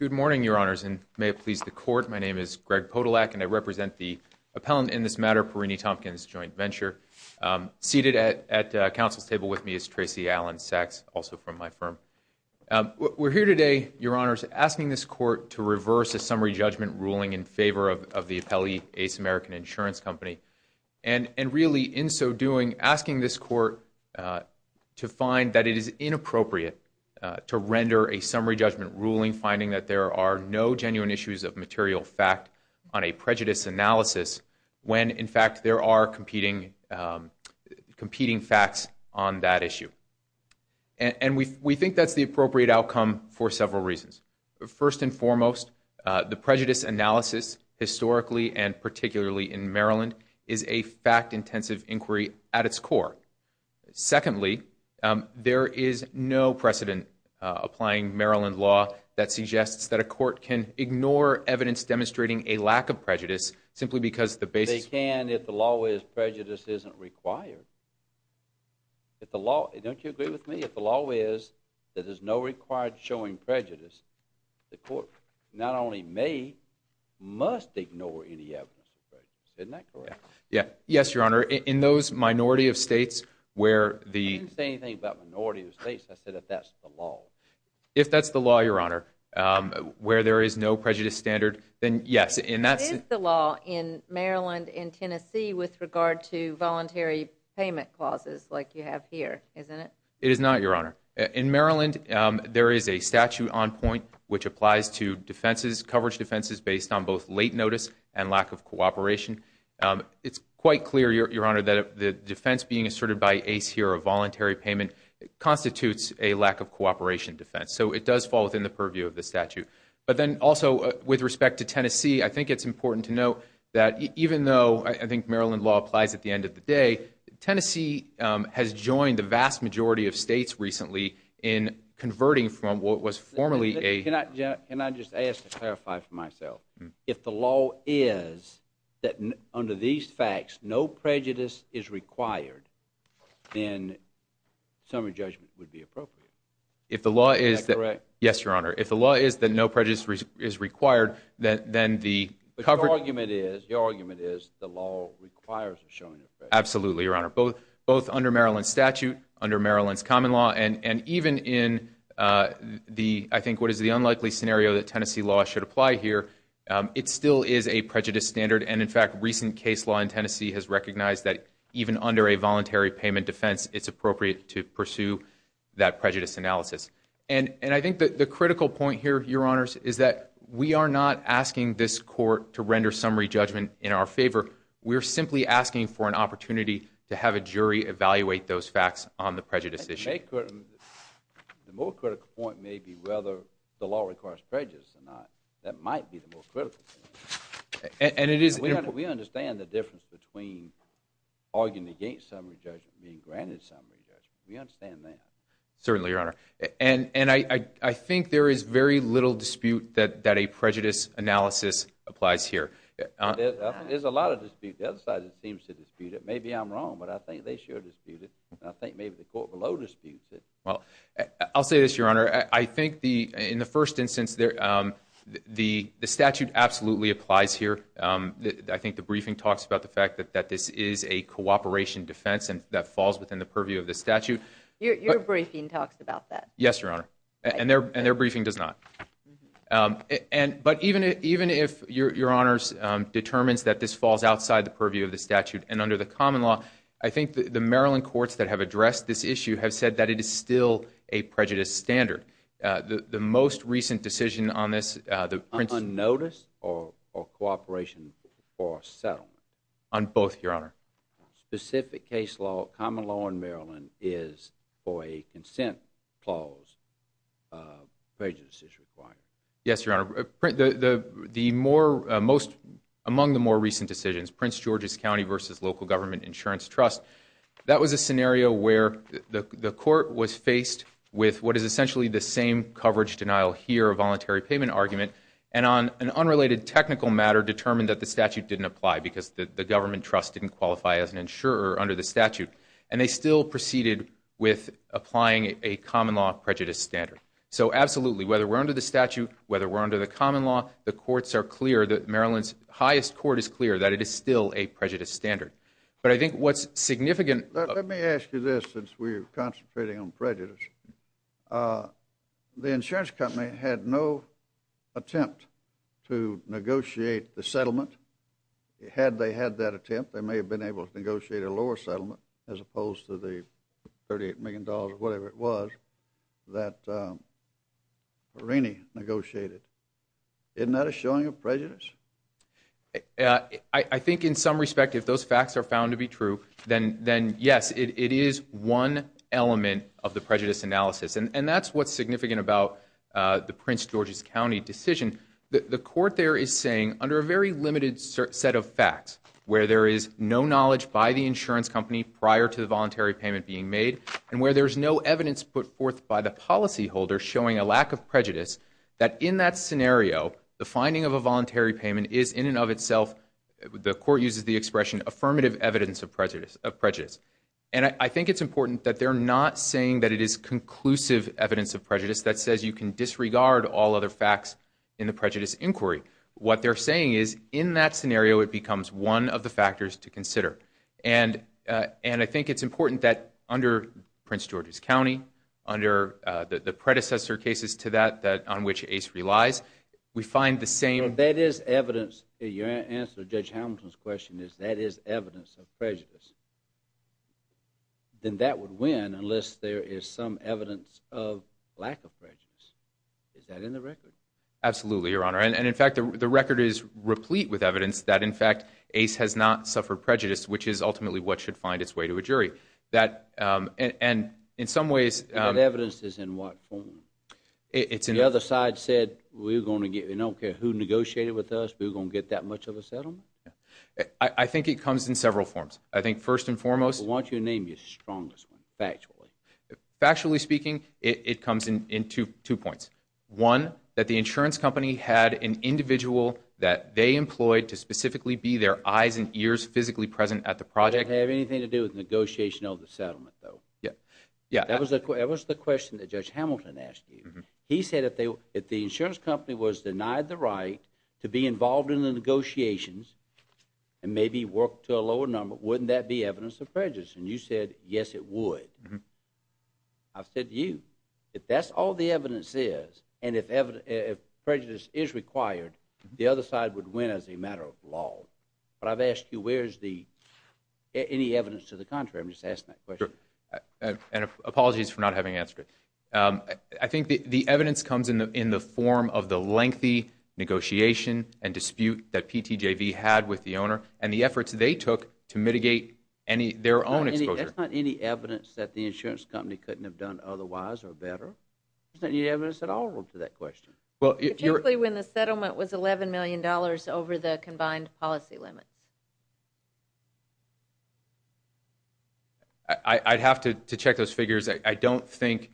Good morning, Your Honors, and may it please the Court, my name is Greg Podolak and I represent the appellant in this matter, Perini-Tompkins Joint Venture. Seated at counsel's table with me is Tracy Allen-Sacks, also from my firm. We're here today, Your Honors, asking this Court to reverse a summary judgment ruling in favor of the appellee, ACE American Insurance Company, and really in so doing, asking this Court to find that it is inappropriate to render a summary judgment ruling finding that there are no genuine issues of material fact on a prejudice analysis when, in fact, there are competing facts on that issue. And we think that's the appropriate outcome for several reasons. First and foremost, the prejudice analysis, historically and particularly in Maryland, is a fact-intensive inquiry at its core. Secondly, there is no precedent applying Maryland law that suggests that a court can ignore evidence demonstrating a lack of prejudice simply because the basis... They can if the law is prejudice isn't required. Don't you agree with me? If the law is that there's no required showing prejudice, the court not only may, must ignore any evidence of prejudice. Isn't that correct? Yes, Your Honor. In those minority of states where the... I didn't say anything about minority of states. I said if that's the law. If that's the law, Your Honor, where there is no prejudice standard, then yes, and that's... It is the law in Maryland and Tennessee with regard to voluntary payment clauses like you have here, isn't it? It is not, Your Honor. In Maryland, there is a statute on point which applies to defenses, coverage defenses, based on both late notice and lack of cooperation. It's quite clear, Your Honor, that the defense being asserted by ACE here, a voluntary payment, constitutes a lack of cooperation defense. So it does fall within the purview of the statute. But then also with respect to Tennessee, I think it's important to note that even though I think Maryland law applies at the end of the day, Tennessee has joined the vast majority of states recently in converting from what was formerly a... If the law is that... Is that correct? Yes, Your Honor. If the law is that no prejudice is required, then the... But your argument is the law requires a showing of prejudice. Absolutely, Your Honor. Both under Maryland statute, under Maryland's common law, and even in the... I think what is the unlikely scenario that Tennessee law should apply here, it still is a prejudice standard. And in fact, recent case law in Tennessee has recognized that even under a voluntary payment defense, it's appropriate to pursue that prejudice analysis. And I think that the critical point here, Your Honors, is that we are not asking this court to render summary judgment in our favor. We're simply asking for an opportunity to have a jury evaluate those facts on the prejudice issue. The more critical point may be whether the law requires prejudice or not. That might be the more critical thing. And it is... We understand the difference between arguing against summary judgment and being granted summary judgment. We understand that. Certainly, Your Honor. And I think there is very little dispute that a prejudice analysis applies here. There's a lot of dispute. The other side seems to dispute it. Maybe I'm wrong, but I think they should dispute it. I think maybe the court below disputes it. Well, I'll say this, Your Honor. I think in the first instance, the statute absolutely applies here. I think the briefing talks about the fact that this is a cooperation defense and that falls within the purview of the statute. Your briefing talks about that. Yes, Your Honor. And their briefing does not. But even if Your Honors determines that this falls outside the purview of the statute and under the common law, I think the Maryland courts that have addressed this issue have said that it is still a prejudice standard. The most recent decision on this... Unnoticed or cooperation for settlement? On both, Your Honor. Specific case law, common law in Maryland is for a consent clause prejudice is required. Yes, Your Honor. Among the more recent decisions, Prince George's County versus local government insurance trust, that was a scenario where the court was faced with what is essentially the same coverage denial here, a voluntary payment argument, and on an unrelated technical matter determined that the statute didn't apply because the government trust didn't qualify as an insurer under the statute. And they still proceeded with applying a common law prejudice standard. So absolutely, whether we're under the statute, whether we're under the common law, the courts are clear that Maryland's highest court is clear that it is still a prejudice standard. But I think what's significant... Let me ask you this since we're concentrating on prejudice. The insurance company had no attempt to negotiate the settlement. Had they had that attempt, they may have been able to negotiate a lower settlement as opposed to the $38 million or whatever it was that Marini negotiated. Isn't that a showing of prejudice? I think in some respect if those facts are found to be true, then yes, it is one element of the prejudice analysis. And that's what's significant about the Prince George's County decision. The court there is saying under a very limited set of facts where there is no knowledge by the insurance company prior to the voluntary payment being made and where there's no evidence put forth by the policyholder showing a lack of prejudice, that in that scenario the finding of a voluntary payment is in and of itself, the court uses the expression, affirmative evidence of prejudice. And I think it's important that they're not saying that it is conclusive evidence of prejudice that says you can disregard all other facts in the prejudice inquiry. What they're saying is in that scenario it becomes one of the factors to consider. And I think it's important that under Prince George's County, under the predecessor cases to that on which Ace relies, we find the same... That is evidence, your answer to Judge Hamilton's question is that is evidence of prejudice. Then that would win unless there is some evidence of lack of prejudice. Is that in the record? Absolutely, Your Honor. And in fact the record is replete with evidence that in fact Ace has not suffered prejudice which is ultimately what should find its way to a jury. And in some ways... That evidence is in what form? It's in... The other side said we're going to get, we don't care who negotiated with us, we're going to get that much of a settlement? I think it comes in several forms. I think first and foremost... Why don't you name your strongest one, factually? Factually speaking, it comes in two points. One, that the insurance company had an individual that they employed to specifically be their eyes and ears physically present at the project. Does that have anything to do with negotiation of the settlement, though? Yeah. That was the question that Judge Hamilton asked you. He said if the insurance company was denied the right to be involved in the negotiations and maybe work to a lower number, wouldn't that be evidence of prejudice? And you said, yes, it would. I said to you, if that's all the evidence is, and if prejudice is required, the other side would win as a matter of law. But I've asked you, where's the... Any evidence to the contrary? I'm just asking that question. And apologies for not having answered it. I think the evidence comes in the form of the lengthy negotiation and dispute that PTJV had with the owner and the efforts they took to mitigate their own exposure. That's not any evidence that the insurance company couldn't have done otherwise or better. There's not any evidence at all to that question. Particularly when the settlement was $11 million over the combined policy limits. I'd have to check those figures. I don't think...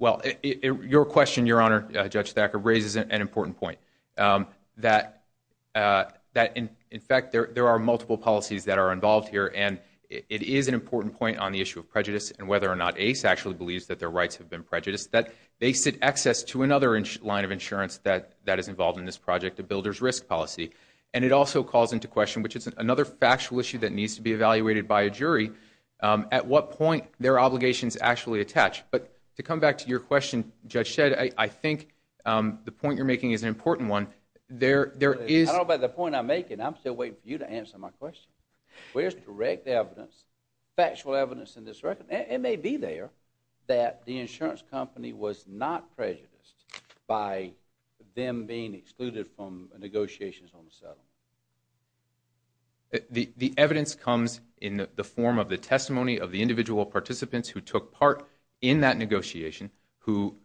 Well, your question, Your Honor, Judge Thacker, raises an important point. That, in fact, there are multiple policies that are involved here, and it is an important point on the issue of prejudice and whether or not Ace actually believes that their rights have been prejudiced, that they sit access to another line of insurance that is involved in this project, a builder's risk policy. And it also calls into question, which is another factual issue that needs to be evaluated by a jury, at what point their obligations actually attach. But to come back to your question, Judge Shedd, I think the point you're making is an important one. I don't know about the point I'm making. I'm still waiting for you to answer my question. Where's direct evidence, factual evidence in this record? It may be there that the insurance company was not prejudiced by them being excluded from negotiations on the settlement. The evidence comes in the form of the testimony of the individual participants who took part in that negotiation, who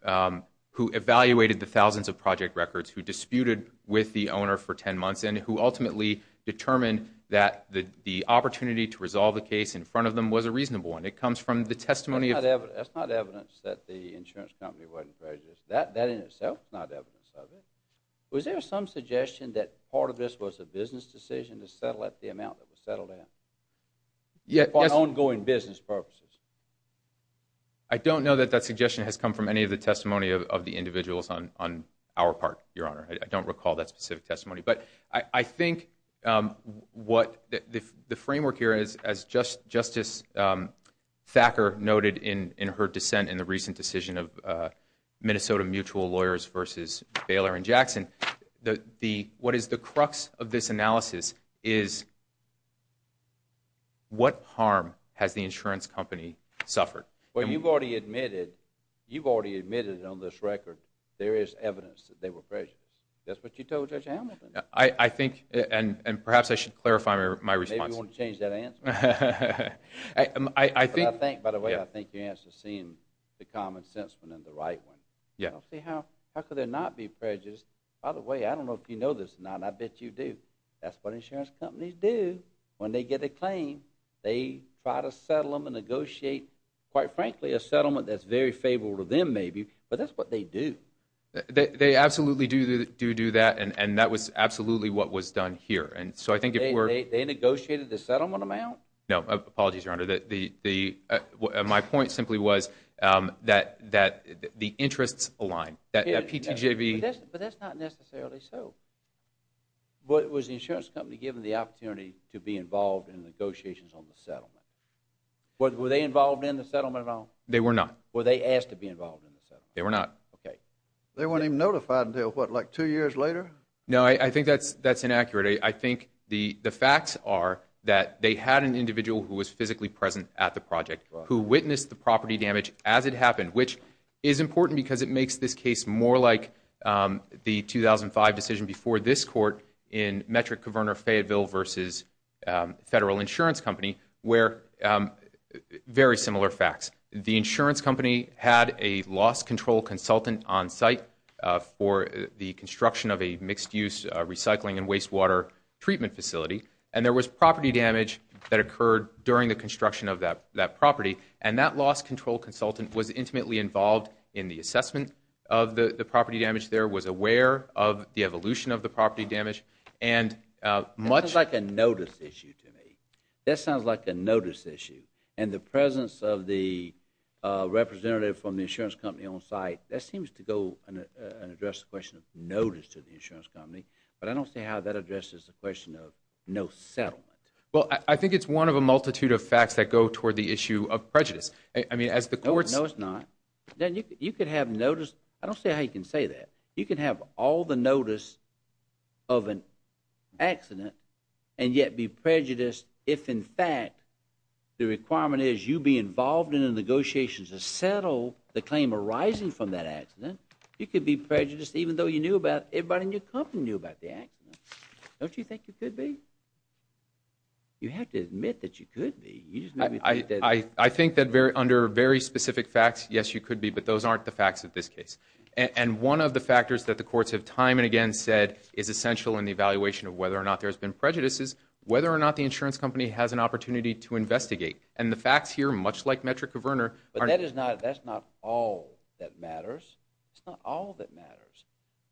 evaluated the thousands of project records, who disputed with the owner for 10 months, and who ultimately determined that the opportunity to resolve the case in front of them was a reasonable one. It comes from the testimony of... That's not evidence that the insurance company wasn't prejudiced. That in itself is not evidence of it. Was there some suggestion that part of this was a business decision to settle at the amount that was settled in, for ongoing business purposes? I don't know that that suggestion has come from any of the testimony of the individuals on our part, Your Honor. I don't recall that specific testimony. But I think what the framework here is, as Justice Thacker noted in her dissent in the recent decision of Minnesota Mutual Lawyers versus Baylor and Jackson, what is the crux of this analysis is what harm has the insurance company suffered? Well, you've already admitted on this record there is evidence that they were prejudiced. That's what you told Judge Hamilton. I think, and perhaps I should clarify my response. Maybe you want to change that answer. I think... I think, by the way, I think your answer seems the common sense one and the right one. Yes. How could there not be prejudice? By the way, I don't know if you know this or not, and I bet you do, that's what insurance companies do when they get a claim. They try to settle them and negotiate, quite frankly, a settlement that's very favorable to them maybe, but that's what they do. They absolutely do do that, and that was absolutely what was done here. And so I think if we're... They negotiated the settlement amount? No. Apologies, Your Honor. My point simply was that the interests aligned, that PTJV... But that's not necessarily so. Was the insurance company given the opportunity to be involved in negotiations on the settlement? Were they involved in the settlement at all? They were not. Were they asked to be involved in the settlement? They were not. Okay. They weren't even notified until, what, like two years later? No, I think that's inaccurate. I think the facts are that they had an individual who was physically present at the project who witnessed the property damage as it happened, which is important because it makes this case more like the 2005 decision before this court in Metric-Covernor-Fayetteville v. Federal Insurance Company where very similar facts. The insurance company had a loss control consultant on site for the construction of a mixed-use recycling and wastewater treatment facility, and there was property damage that occurred during the construction of that property, and that loss control consultant was intimately involved in the assessment of the property damage there, was aware of the evolution of the property damage, and much... That sounds like a notice issue to me. That sounds like a notice issue. And the presence of the representative from the insurance company on site, that seems to go and address the question of notice to the insurance company, but I don't see how that addresses the question of no settlement. Well, I think it's one of a multitude of facts that go toward the issue of prejudice. I mean, as the courts... No, it's not. You could have notice. I don't see how you can say that. You can have all the notice of an accident and yet be prejudiced if, in fact, the requirement is you be involved in a negotiation to settle the claim arising from that accident. You could be prejudiced even though you knew about it, everybody in your company knew about the accident. Don't you think you could be? You have to admit that you could be. I think that under very specific facts, yes, you could be, but those aren't the facts of this case. And one of the factors that the courts have time and again said is essential in the evaluation of whether or not there's been prejudice is whether or not the insurance company has an opportunity to investigate. And the facts here, much like metric covernor... But that's not all that matters. It's not all that matters.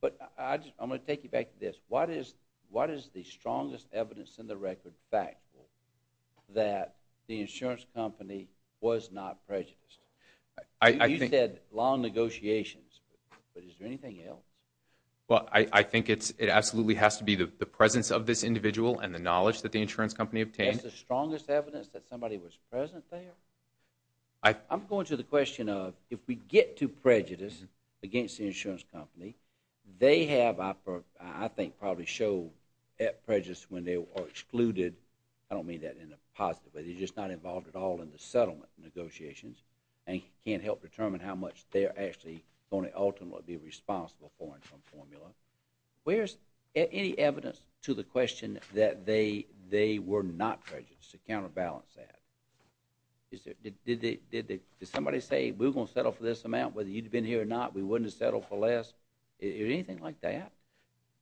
But I'm going to take you back to this. What is the strongest evidence in the record, fact, that the insurance company was not prejudiced? You said long negotiations, but is there anything else? Well, I think it absolutely has to be the presence of this individual and the knowledge that the insurance company obtained. That's the strongest evidence that somebody was present there? I'm going to the question of if we get to prejudice against the insurance company, they have, I think, probably showed prejudice when they were excluded. I don't mean that in a positive way. They're just not involved at all in the settlement negotiations and can't help determine how much they're actually going to ultimately be responsible for in some formula. Where's any evidence to the question that they were not prejudiced to counterbalance that? Did somebody say, we're going to settle for this amount whether you'd have been here or not, we wouldn't have settled for less? Is there anything like that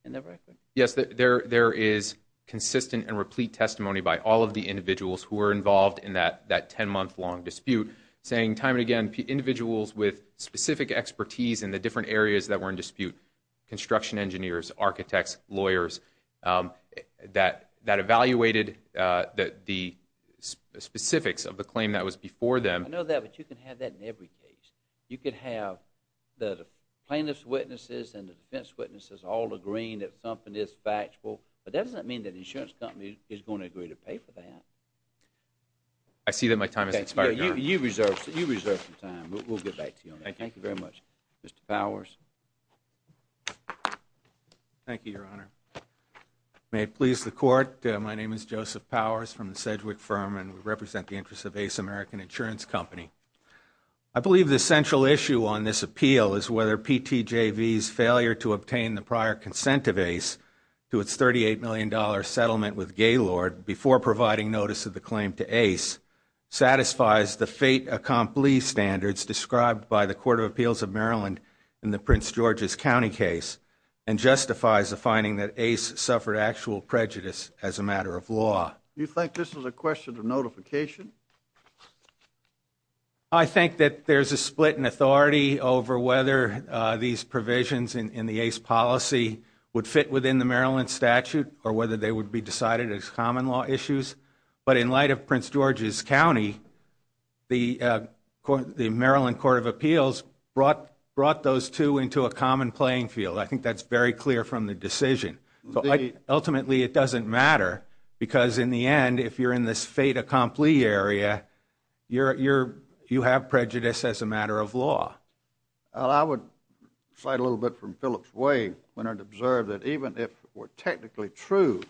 in the record? Yes, there is consistent and replete testimony by all of the individuals who were involved in that 10-month long dispute saying time and again individuals with specific expertise in the different areas that were in dispute, construction engineers, architects, lawyers, that evaluated the specifics of the claim that was before them. I know that, but you can have that in every case. You can have the plaintiff's witnesses and the defense witnesses all agreeing that something is factual, but that doesn't mean that the insurance company is going to agree to pay for that. I see that my time has expired. You reserve some time. We'll get back to you on that. Thank you very much. Mr. Powers. Thank you, Your Honor. May it please the Court, my name is Joseph Powers from the Sedgwick firm and we represent the interests of Ace American Insurance Company. I believe the central issue on this appeal is whether PTJV's failure to obtain the prior consent of Ace to its $38 million settlement with Gaylord before providing notice of the claim to Ace satisfies the fait accompli standards described by the Court of Appeals of Maryland in the Prince George's County case and justifies the finding that Ace suffered actual prejudice as a matter of law. Do you think this is a question of notification? I think that there's a split in authority over whether these provisions in the Ace policy would fit within the Maryland statute or whether they would be decided as common law issues. But in light of Prince George's County, the Maryland Court of Appeals brought those two into a common playing field. I think that's very clear from the decision. Ultimately, it doesn't matter because in the end, if you're in this fait accompli area, you have prejudice as a matter of law. I would cite a little bit from Philip's way when I observed that even if it were technically true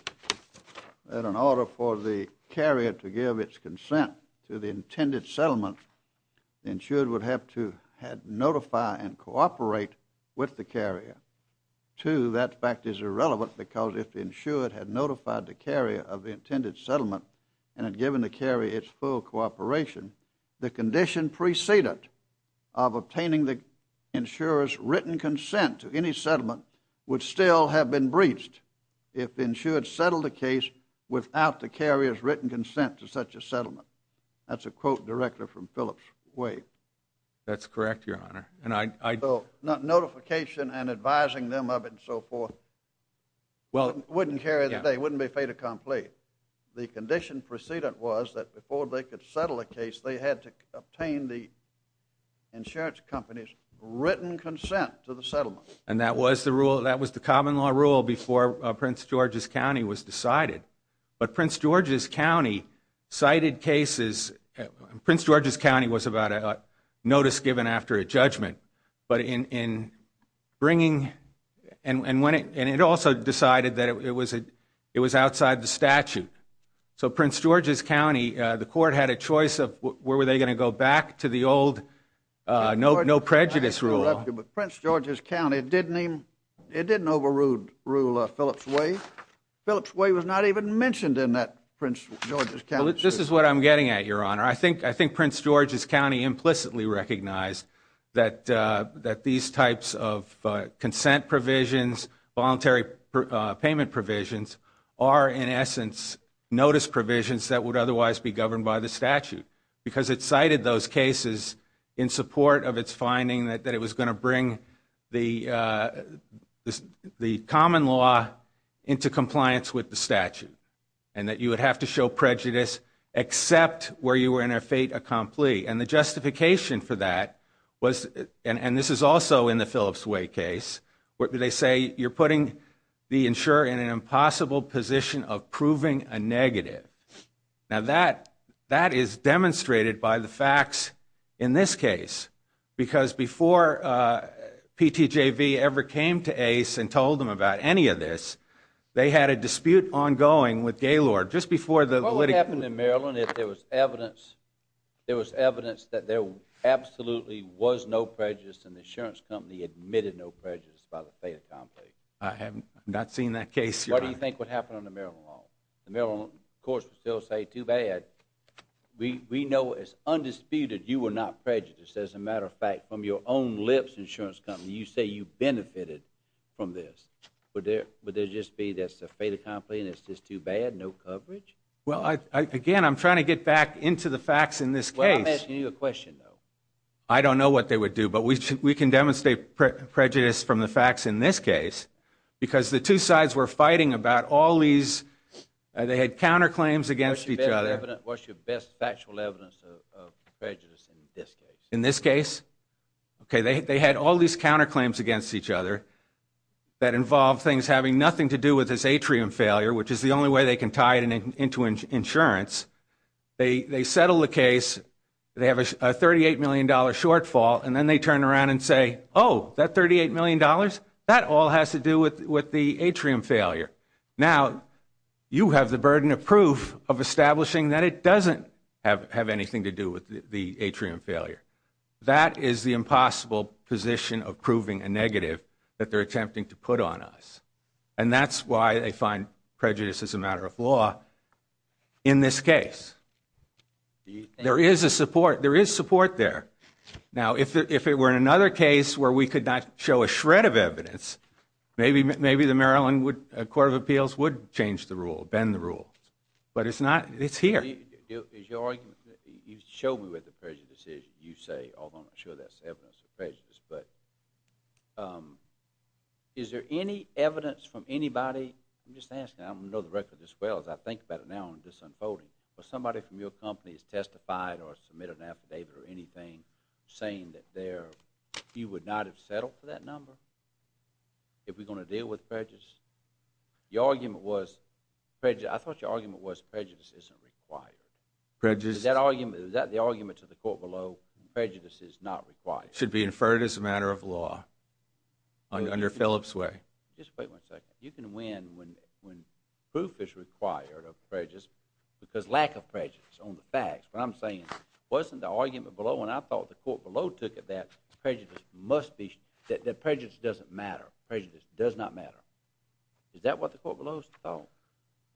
that in order for the carrier to give its consent to the intended settlement, the insured would have to notify and cooperate with the carrier. Two, that fact is irrelevant because if the insured had notified the carrier of the intended settlement and had given the carrier its full cooperation, the condition preceded of obtaining the insurer's written consent to any settlement would still have been breached if the insured settled the case without the carrier's written consent to such a settlement. That's a quote directly from Philip's way. That's correct, Your Honor. Notification and advising them of it and so forth wouldn't carry the day, wouldn't be fait accompli. The condition preceded was that before they could settle a case, they had to obtain the insurance company's written consent to the settlement. And that was the common law rule before Prince George's County was decided. But Prince George's County cited cases. Prince George's County was about a notice given after a judgment. But in bringing and it also decided that it was outside the statute. So Prince George's County, the court had a choice of where were they going to go back to the old no prejudice rule. But Prince George's County, it didn't overrule Philip's way. Philip's way was not even mentioned in that Prince George's County. This is what I'm getting at, Your Honor. I think Prince George's County implicitly recognized that these types of consent provisions, voluntary payment provisions are in essence notice provisions that would otherwise be governed by the statute. Because it cited those cases in support of its finding that it was going to bring the common law into compliance with the statute. And that you would have to show prejudice except where you were in a fait accompli. And the justification for that was, and this is also in the Philip's way case, where they say you're putting the insurer in an impossible position of proving a negative. Now that is demonstrated by the facts in this case. Because before PTJV ever came to ACE and told them about any of this, they had a dispute ongoing with Gaylord. What would happen in Maryland if there was evidence that there absolutely was no prejudice and the insurance company admitted no prejudice by the fait accompli? I have not seen that case, Your Honor. What do you think would happen under Maryland law? Of course, they'll say too bad. We know as undisputed you were not prejudiced. As a matter of fact, from your own lips, insurance company, you say you benefited from this. Would there just be that's a fait accompli and it's just too bad, no coverage? Well, again, I'm trying to get back into the facts in this case. Well, I'm asking you a question, though. I don't know what they would do, but we can demonstrate prejudice from the facts in this case because the two sides were fighting about all these. They had counterclaims against each other. What's your best factual evidence of prejudice in this case? In this case? They had all these counterclaims against each other that involved things having nothing to do with this atrium failure, which is the only way they can tie it into insurance. They settled the case. They have a $38 million shortfall, and then they turn around and say, oh, that $38 million, that all has to do with the atrium failure. Now you have the burden of proof of establishing that it doesn't have anything to do with the atrium failure. That is the impossible position of proving a negative that they're attempting to put on us, and that's why they find prejudice is a matter of law in this case. There is a support. There is support there. Now, if it were in another case where we could not show a shred of evidence, maybe the Maryland Court of Appeals would change the rule, bend the rule, but it's not. It's here. You showed me where the prejudice is, you say, although I'm not sure that's evidence of prejudice, but is there any evidence from anybody? I'm just asking. I don't know the record as well as I think about it now in this unfolding, but somebody from your company has testified or submitted an affidavit or anything saying that you would not have settled for that number if we're going to deal with prejudice? I thought your argument was prejudice isn't required. Is that the argument to the court below? Prejudice is not required? It should be inferred as a matter of law under Phillips' way. Just wait one second. You can win when proof is required of prejudice because lack of prejudice on the facts. What I'm saying wasn't the argument below, and I thought the court below took it that prejudice doesn't matter. Prejudice does not matter. Is that what the court below thought?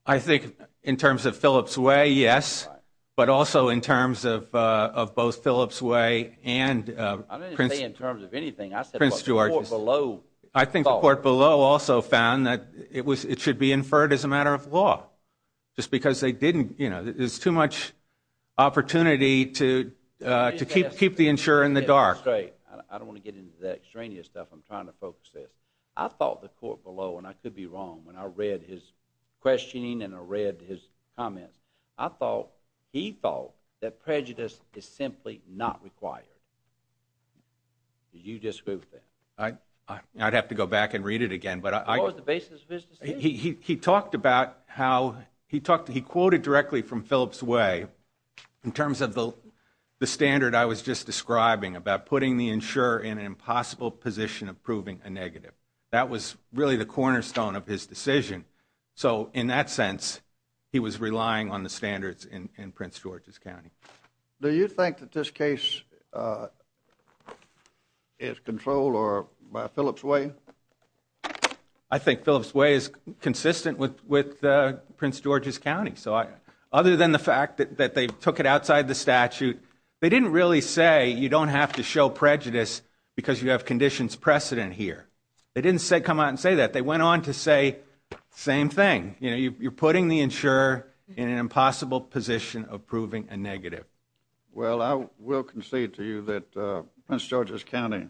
I think in terms of Phillips' way, yes, but also in terms of both Phillips' way and Prince George's. I didn't say in terms of anything. I said what the court below thought. I think the court below also found that it should be inferred as a matter of law just because they didn't. There's too much opportunity to keep the insurer in the dark. I don't want to get into that extraneous stuff. I'm trying to focus this. I thought the court below, and I could be wrong when I read his questioning and I read his comments, I thought he thought that prejudice is simply not required. Did you disagree with that? I'd have to go back and read it again. What was the basis of his decision? He talked about how he quoted directly from Phillips' way in terms of the standard I was just describing about putting the insurer in an impossible position of proving a negative. That was really the cornerstone of his decision. So in that sense, he was relying on the standards in Prince George's County. Do you think that this case is controlled by Phillips' way? I think Phillips' way is consistent with Prince George's County. Other than the fact that they took it outside the statute, they didn't really say you don't have to show prejudice because you have conditions precedent here. They didn't come out and say that. They went on to say the same thing. You're putting the insurer in an impossible position of proving a negative. Well, I will concede to you that Prince George's County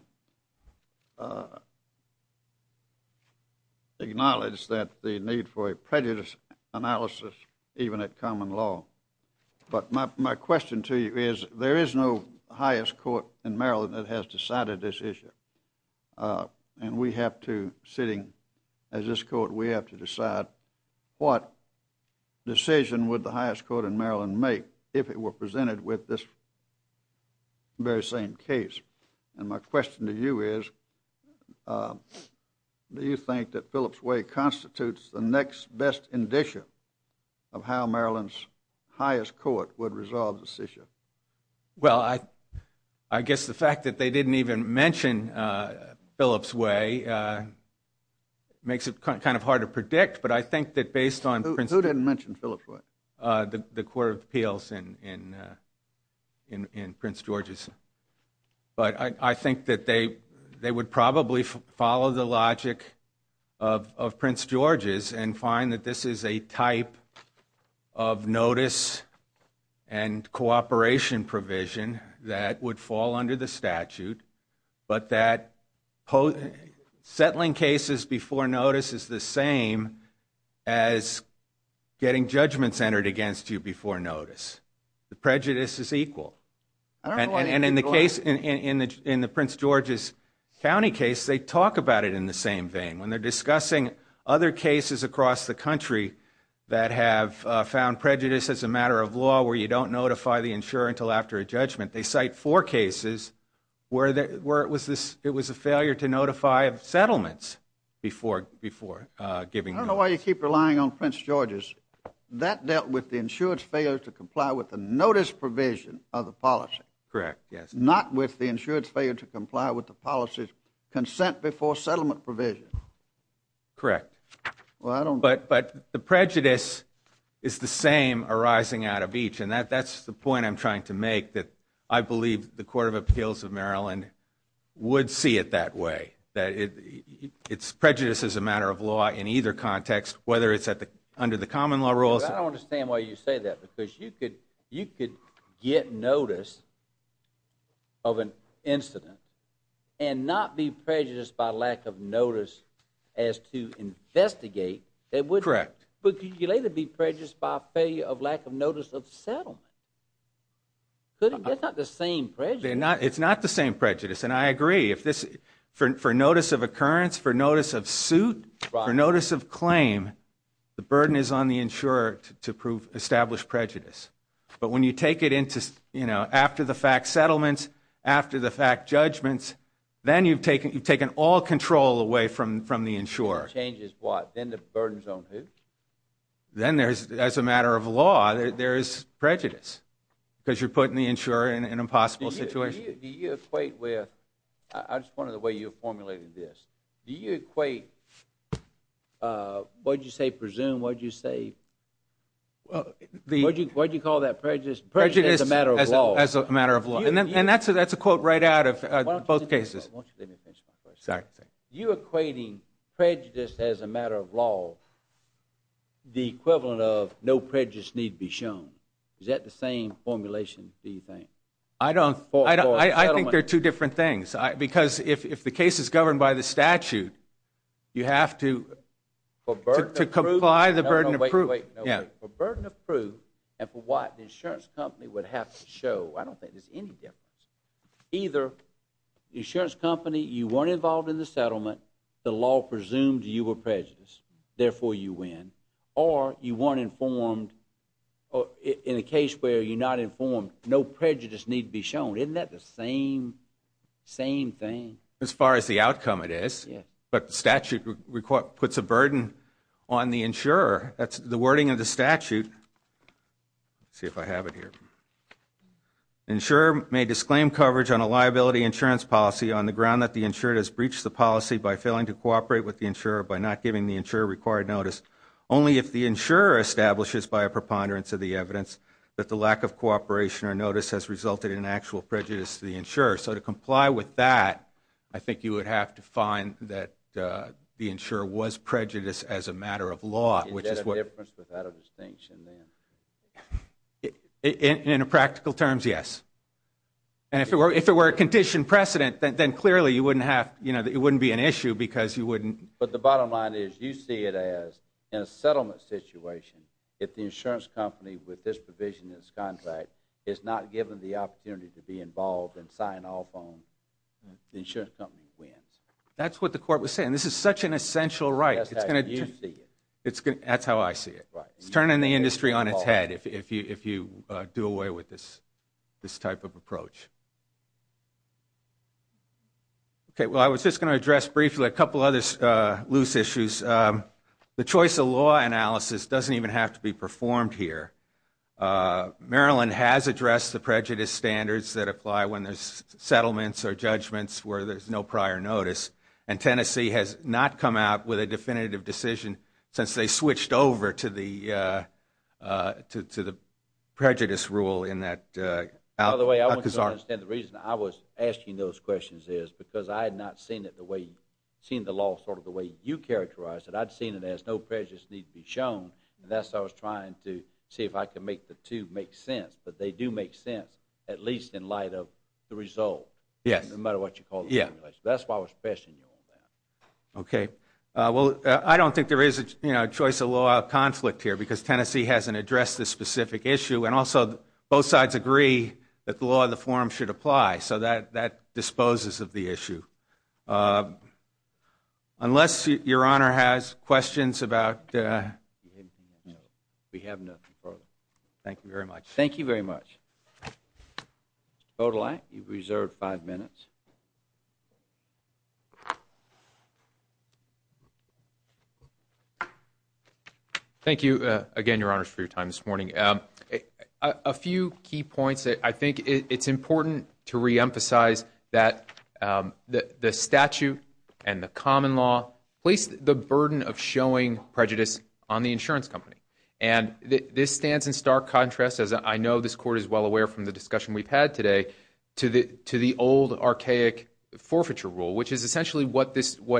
acknowledges that the need for a prejudice analysis, even at common law. But my question to you is there is no highest court in Maryland that has decided this issue. And we have to sitting as this court, we have to decide what decision would the highest court in Maryland make if it were presented with this very same case. And my question to you is do you think that Phillips' way constitutes the next best indicia of how Maryland's highest court would resolve this issue? Well, I guess the fact that they didn't even mention Phillips' way makes it kind of hard to predict. But I think that based on Prince George's... Who didn't mention Phillips' way? The Court of Appeals in Prince George's. But I think that they would probably follow the logic of Prince George's and find that this is a type of notice and cooperation provision that would fall under the statute. But that settling cases before notice is the same as getting judgments entered against you before notice. The prejudice is equal. And in the case, in the Prince George's County case, they talk about it in the same vein. When they're discussing other cases across the country that have found prejudice as a matter of law where you don't notify the insurer until after a judgment, they cite four cases where it was a failure to notify of settlements before giving notice. I don't know why you keep relying on Prince George's. That dealt with the insurer's failure to comply with the notice provision of the policy. Correct, yes. Not with the insurer's failure to comply with the policy's consent before settlement provision. Correct. But the prejudice is the same arising out of each. And that's the point I'm trying to make, that I believe the Court of Appeals of Maryland would see it that way, that it's prejudice as a matter of law in either context, whether it's under the common law rules. I don't understand why you say that because you could get notice of an incident and not be prejudiced by lack of notice as to investigate. Correct. But could you later be prejudiced by a failure of lack of notice of settlement? That's not the same prejudice. It's not the same prejudice, and I agree. For notice of occurrence, for notice of suit, for notice of claim, the burden is on the insurer to establish prejudice. But when you take it into, you know, after-the-fact settlements, after-the-fact judgments, then you've taken all control away from the insurer. The insurer changes what? Then the burden's on who? Then there's, as a matter of law, there's prejudice because you're putting the insurer in an impossible situation. Do you equate with, I just wonder the way you formulated this, do you equate, what did you say, presume, what did you say, what did you call that prejudice? Prejudice as a matter of law. As a matter of law. And that's a quote right out of both cases. Why don't you let me finish my question? Sorry. You equating prejudice as a matter of law, the equivalent of no prejudice need be shown. Is that the same formulation, do you think? I don't, I think they're two different things. Because if the case is governed by the statute, you have to comply the burden of proof. For burden of proof and for what the insurance company would have to show, I don't think there's any difference. Either the insurance company, you weren't involved in the settlement, the law presumed you were prejudiced, therefore you win. Or you weren't informed, in a case where you're not informed, no prejudice need be shown. Isn't that the same thing? As far as the outcome it is. Yes. But the statute puts a burden on the insurer. That's the wording of the statute. Let's see if I have it here. Insurer may disclaim coverage on a liability insurance policy on the ground that the insurer has breached the policy by failing to cooperate with the insurer by not giving the insurer required notice, only if the insurer establishes by a preponderance of the evidence that the lack of cooperation or notice has resulted in actual prejudice to the insurer. So to comply with that, I think you would have to find that the insurer was prejudiced as a matter of law. Is there a difference without a distinction then? In practical terms, yes. And if it were a condition precedent, then clearly it wouldn't be an issue because you wouldn't. But the bottom line is you see it as a settlement situation if the insurance company with this provision in its contract is not given the opportunity to be involved and sign off on the insurance company wins. That's what the court was saying. This is such an essential right. That's how you see it. That's how I see it. Right. It's a concern in the industry on its head if you do away with this type of approach. Okay. Well, I was just going to address briefly a couple of other loose issues. The choice of law analysis doesn't even have to be performed here. Maryland has addressed the prejudice standards that apply when there's settlements or judgments where there's no prior notice. And Tennessee has not come out with a definitive decision since they switched over to the prejudice rule in that. By the way, I want you to understand the reason I was asking those questions is because I had not seen the law sort of the way you characterized it. I'd seen it as no prejudice needs to be shown, and that's why I was trying to see if I could make the two make sense. But they do make sense, at least in light of the result. Yes. No matter what you call it. That's why I was questioning you on that. Okay. Well, I don't think there is a choice of law of conflict here because Tennessee hasn't addressed this specific issue. And also, both sides agree that the law of the forum should apply. So that disposes of the issue. Unless your Honor has questions about... We have nothing further. Thank you very much. Thank you very much. Odaly, you've reserved five minutes. Thank you again, Your Honors, for your time this morning. A few key points. I think it's important to reemphasize that the statute and the common law place the burden of showing prejudice on the insurance company. And this stands in stark contrast, as I know this Court is well aware from the discussion we've had today, to the old archaic forfeiture rule, which is essentially what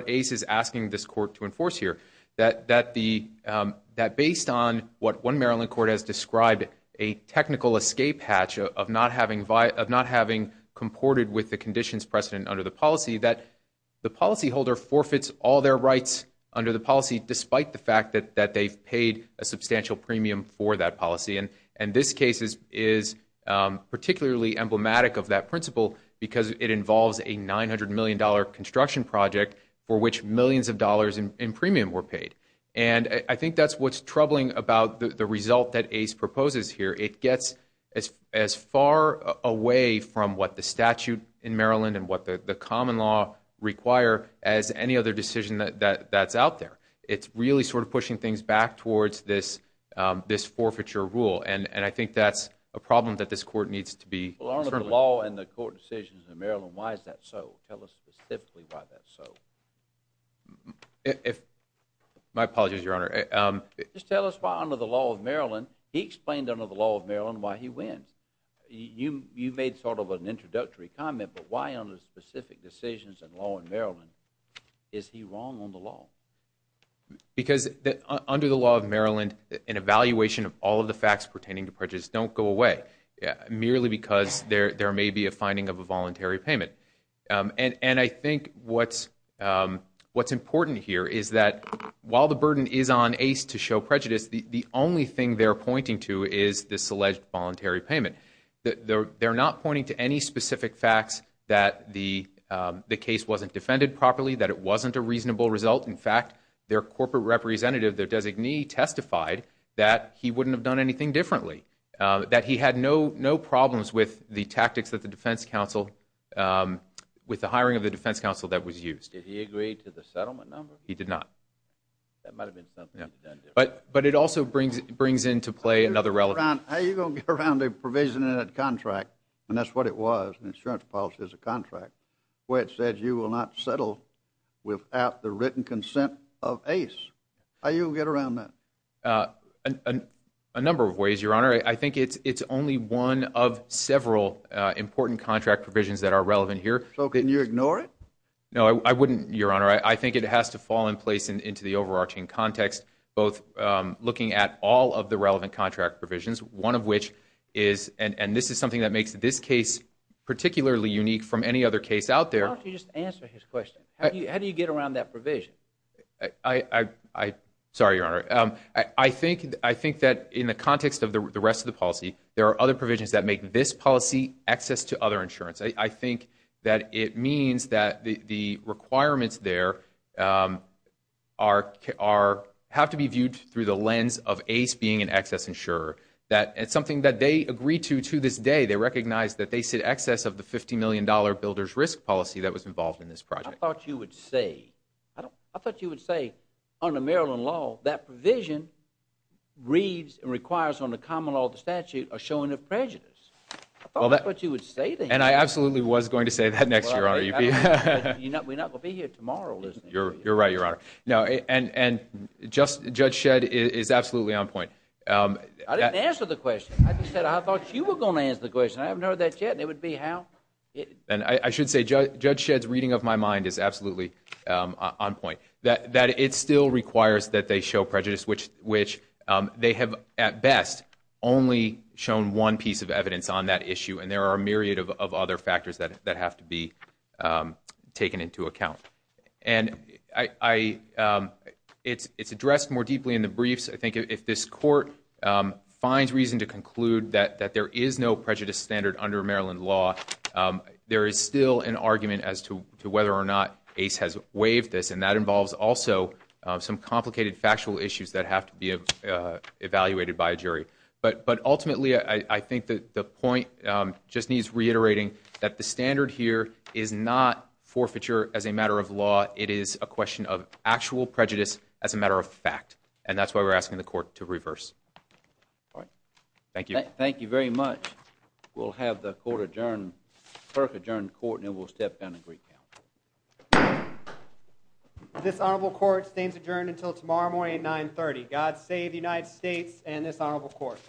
ACE is asking this Court to enforce here. That based on what one Maryland court has described, a technical escape hatch of not having comported with the conditions precedent under the policy, that the policyholder forfeits all their rights under the policy, despite the fact that they've paid a substantial premium for that policy. And this case is particularly emblematic of that principle because it involves a $900 million construction project for which millions of dollars in premium were paid. And I think that's what's troubling about the result that ACE proposes here. It gets as far away from what the statute in Maryland and what the common law require as any other decision that's out there. It's really sort of pushing things back towards this forfeiture rule. And I think that's a problem that this Court needs to be... Well, under the law and the court decisions in Maryland, why is that so? Tell us specifically why that's so. My apologies, Your Honor. Just tell us why under the law of Maryland, he explained under the law of Maryland why he wins. You made sort of an introductory comment, but why under specific decisions and law in Maryland is he wrong on the law? Because under the law of Maryland, an evaluation of all of the facts pertaining to prejudice don't go away, merely because there may be a finding of a voluntary payment. And I think what's important here is that while the burden is on ACE to show prejudice, the only thing they're pointing to is this alleged voluntary payment. They're not pointing to any specific facts that the case wasn't defended properly, that it wasn't a reasonable result. In fact, their corporate representative, their designee, testified that he wouldn't have done anything differently, that he had no problems with the tactics that the defense counsel, with the hiring of the defense counsel that was used. Did he agree to the settlement number? He did not. That might have been something he's done differently. But it also brings into play another relevant... How are you going to get around a provision in a contract, and that's what it was, an insurance policy as a contract, where it said you will not settle without the written consent of ACE? How are you going to get around that? A number of ways, Your Honor. I think it's only one of several important contract provisions that are relevant here. So can you ignore it? No, I wouldn't, Your Honor. I think it has to fall in place into the overarching context, both looking at all of the relevant contract provisions, one of which is, and this is something that makes this case particularly unique from any other case out there. Why don't you just answer his question? How do you get around that provision? Sorry, Your Honor. I think that in the context of the rest of the policy, there are other provisions that make this policy access to other insurance. I think that it means that the requirements there have to be viewed through the lens of ACE being an access insurer. It's something that they agree to, to this day. They recognize that they see excess of the $50 million builder's risk policy that was involved in this project. I thought you would say, under Maryland law, that provision reads and requires on the common law of the statute a showing of prejudice. I thought you would say that. And I absolutely was going to say that next year, Your Honor. We're not going to be here tomorrow. You're right, Your Honor. And Judge Shedd is absolutely on point. I didn't answer the question. I just said I thought you were going to answer the question. I haven't heard that yet, and it would be how? I should say Judge Shedd's reading of my mind is absolutely on point, that it still requires that they show prejudice, which they have at best only shown one piece of evidence on that issue, and there are a myriad of other factors that have to be taken into account. And it's addressed more deeply in the briefs. I think if this court finds reason to conclude that there is no prejudice standard under Maryland law, there is still an argument as to whether or not ACE has waived this, and that involves also some complicated factual issues that have to be evaluated by a jury. But ultimately, I think the point just needs reiterating that the standard here is not forfeiture as a matter of law. It is a question of actual prejudice as a matter of fact, and that's why we're asking the court to reverse. All right. Thank you. Thank you very much. We'll have the court adjourn, clerk adjourn the court, and then we'll step down and recount. This honorable court stays adjourned until tomorrow morning at 930. God save the United States and this honorable court.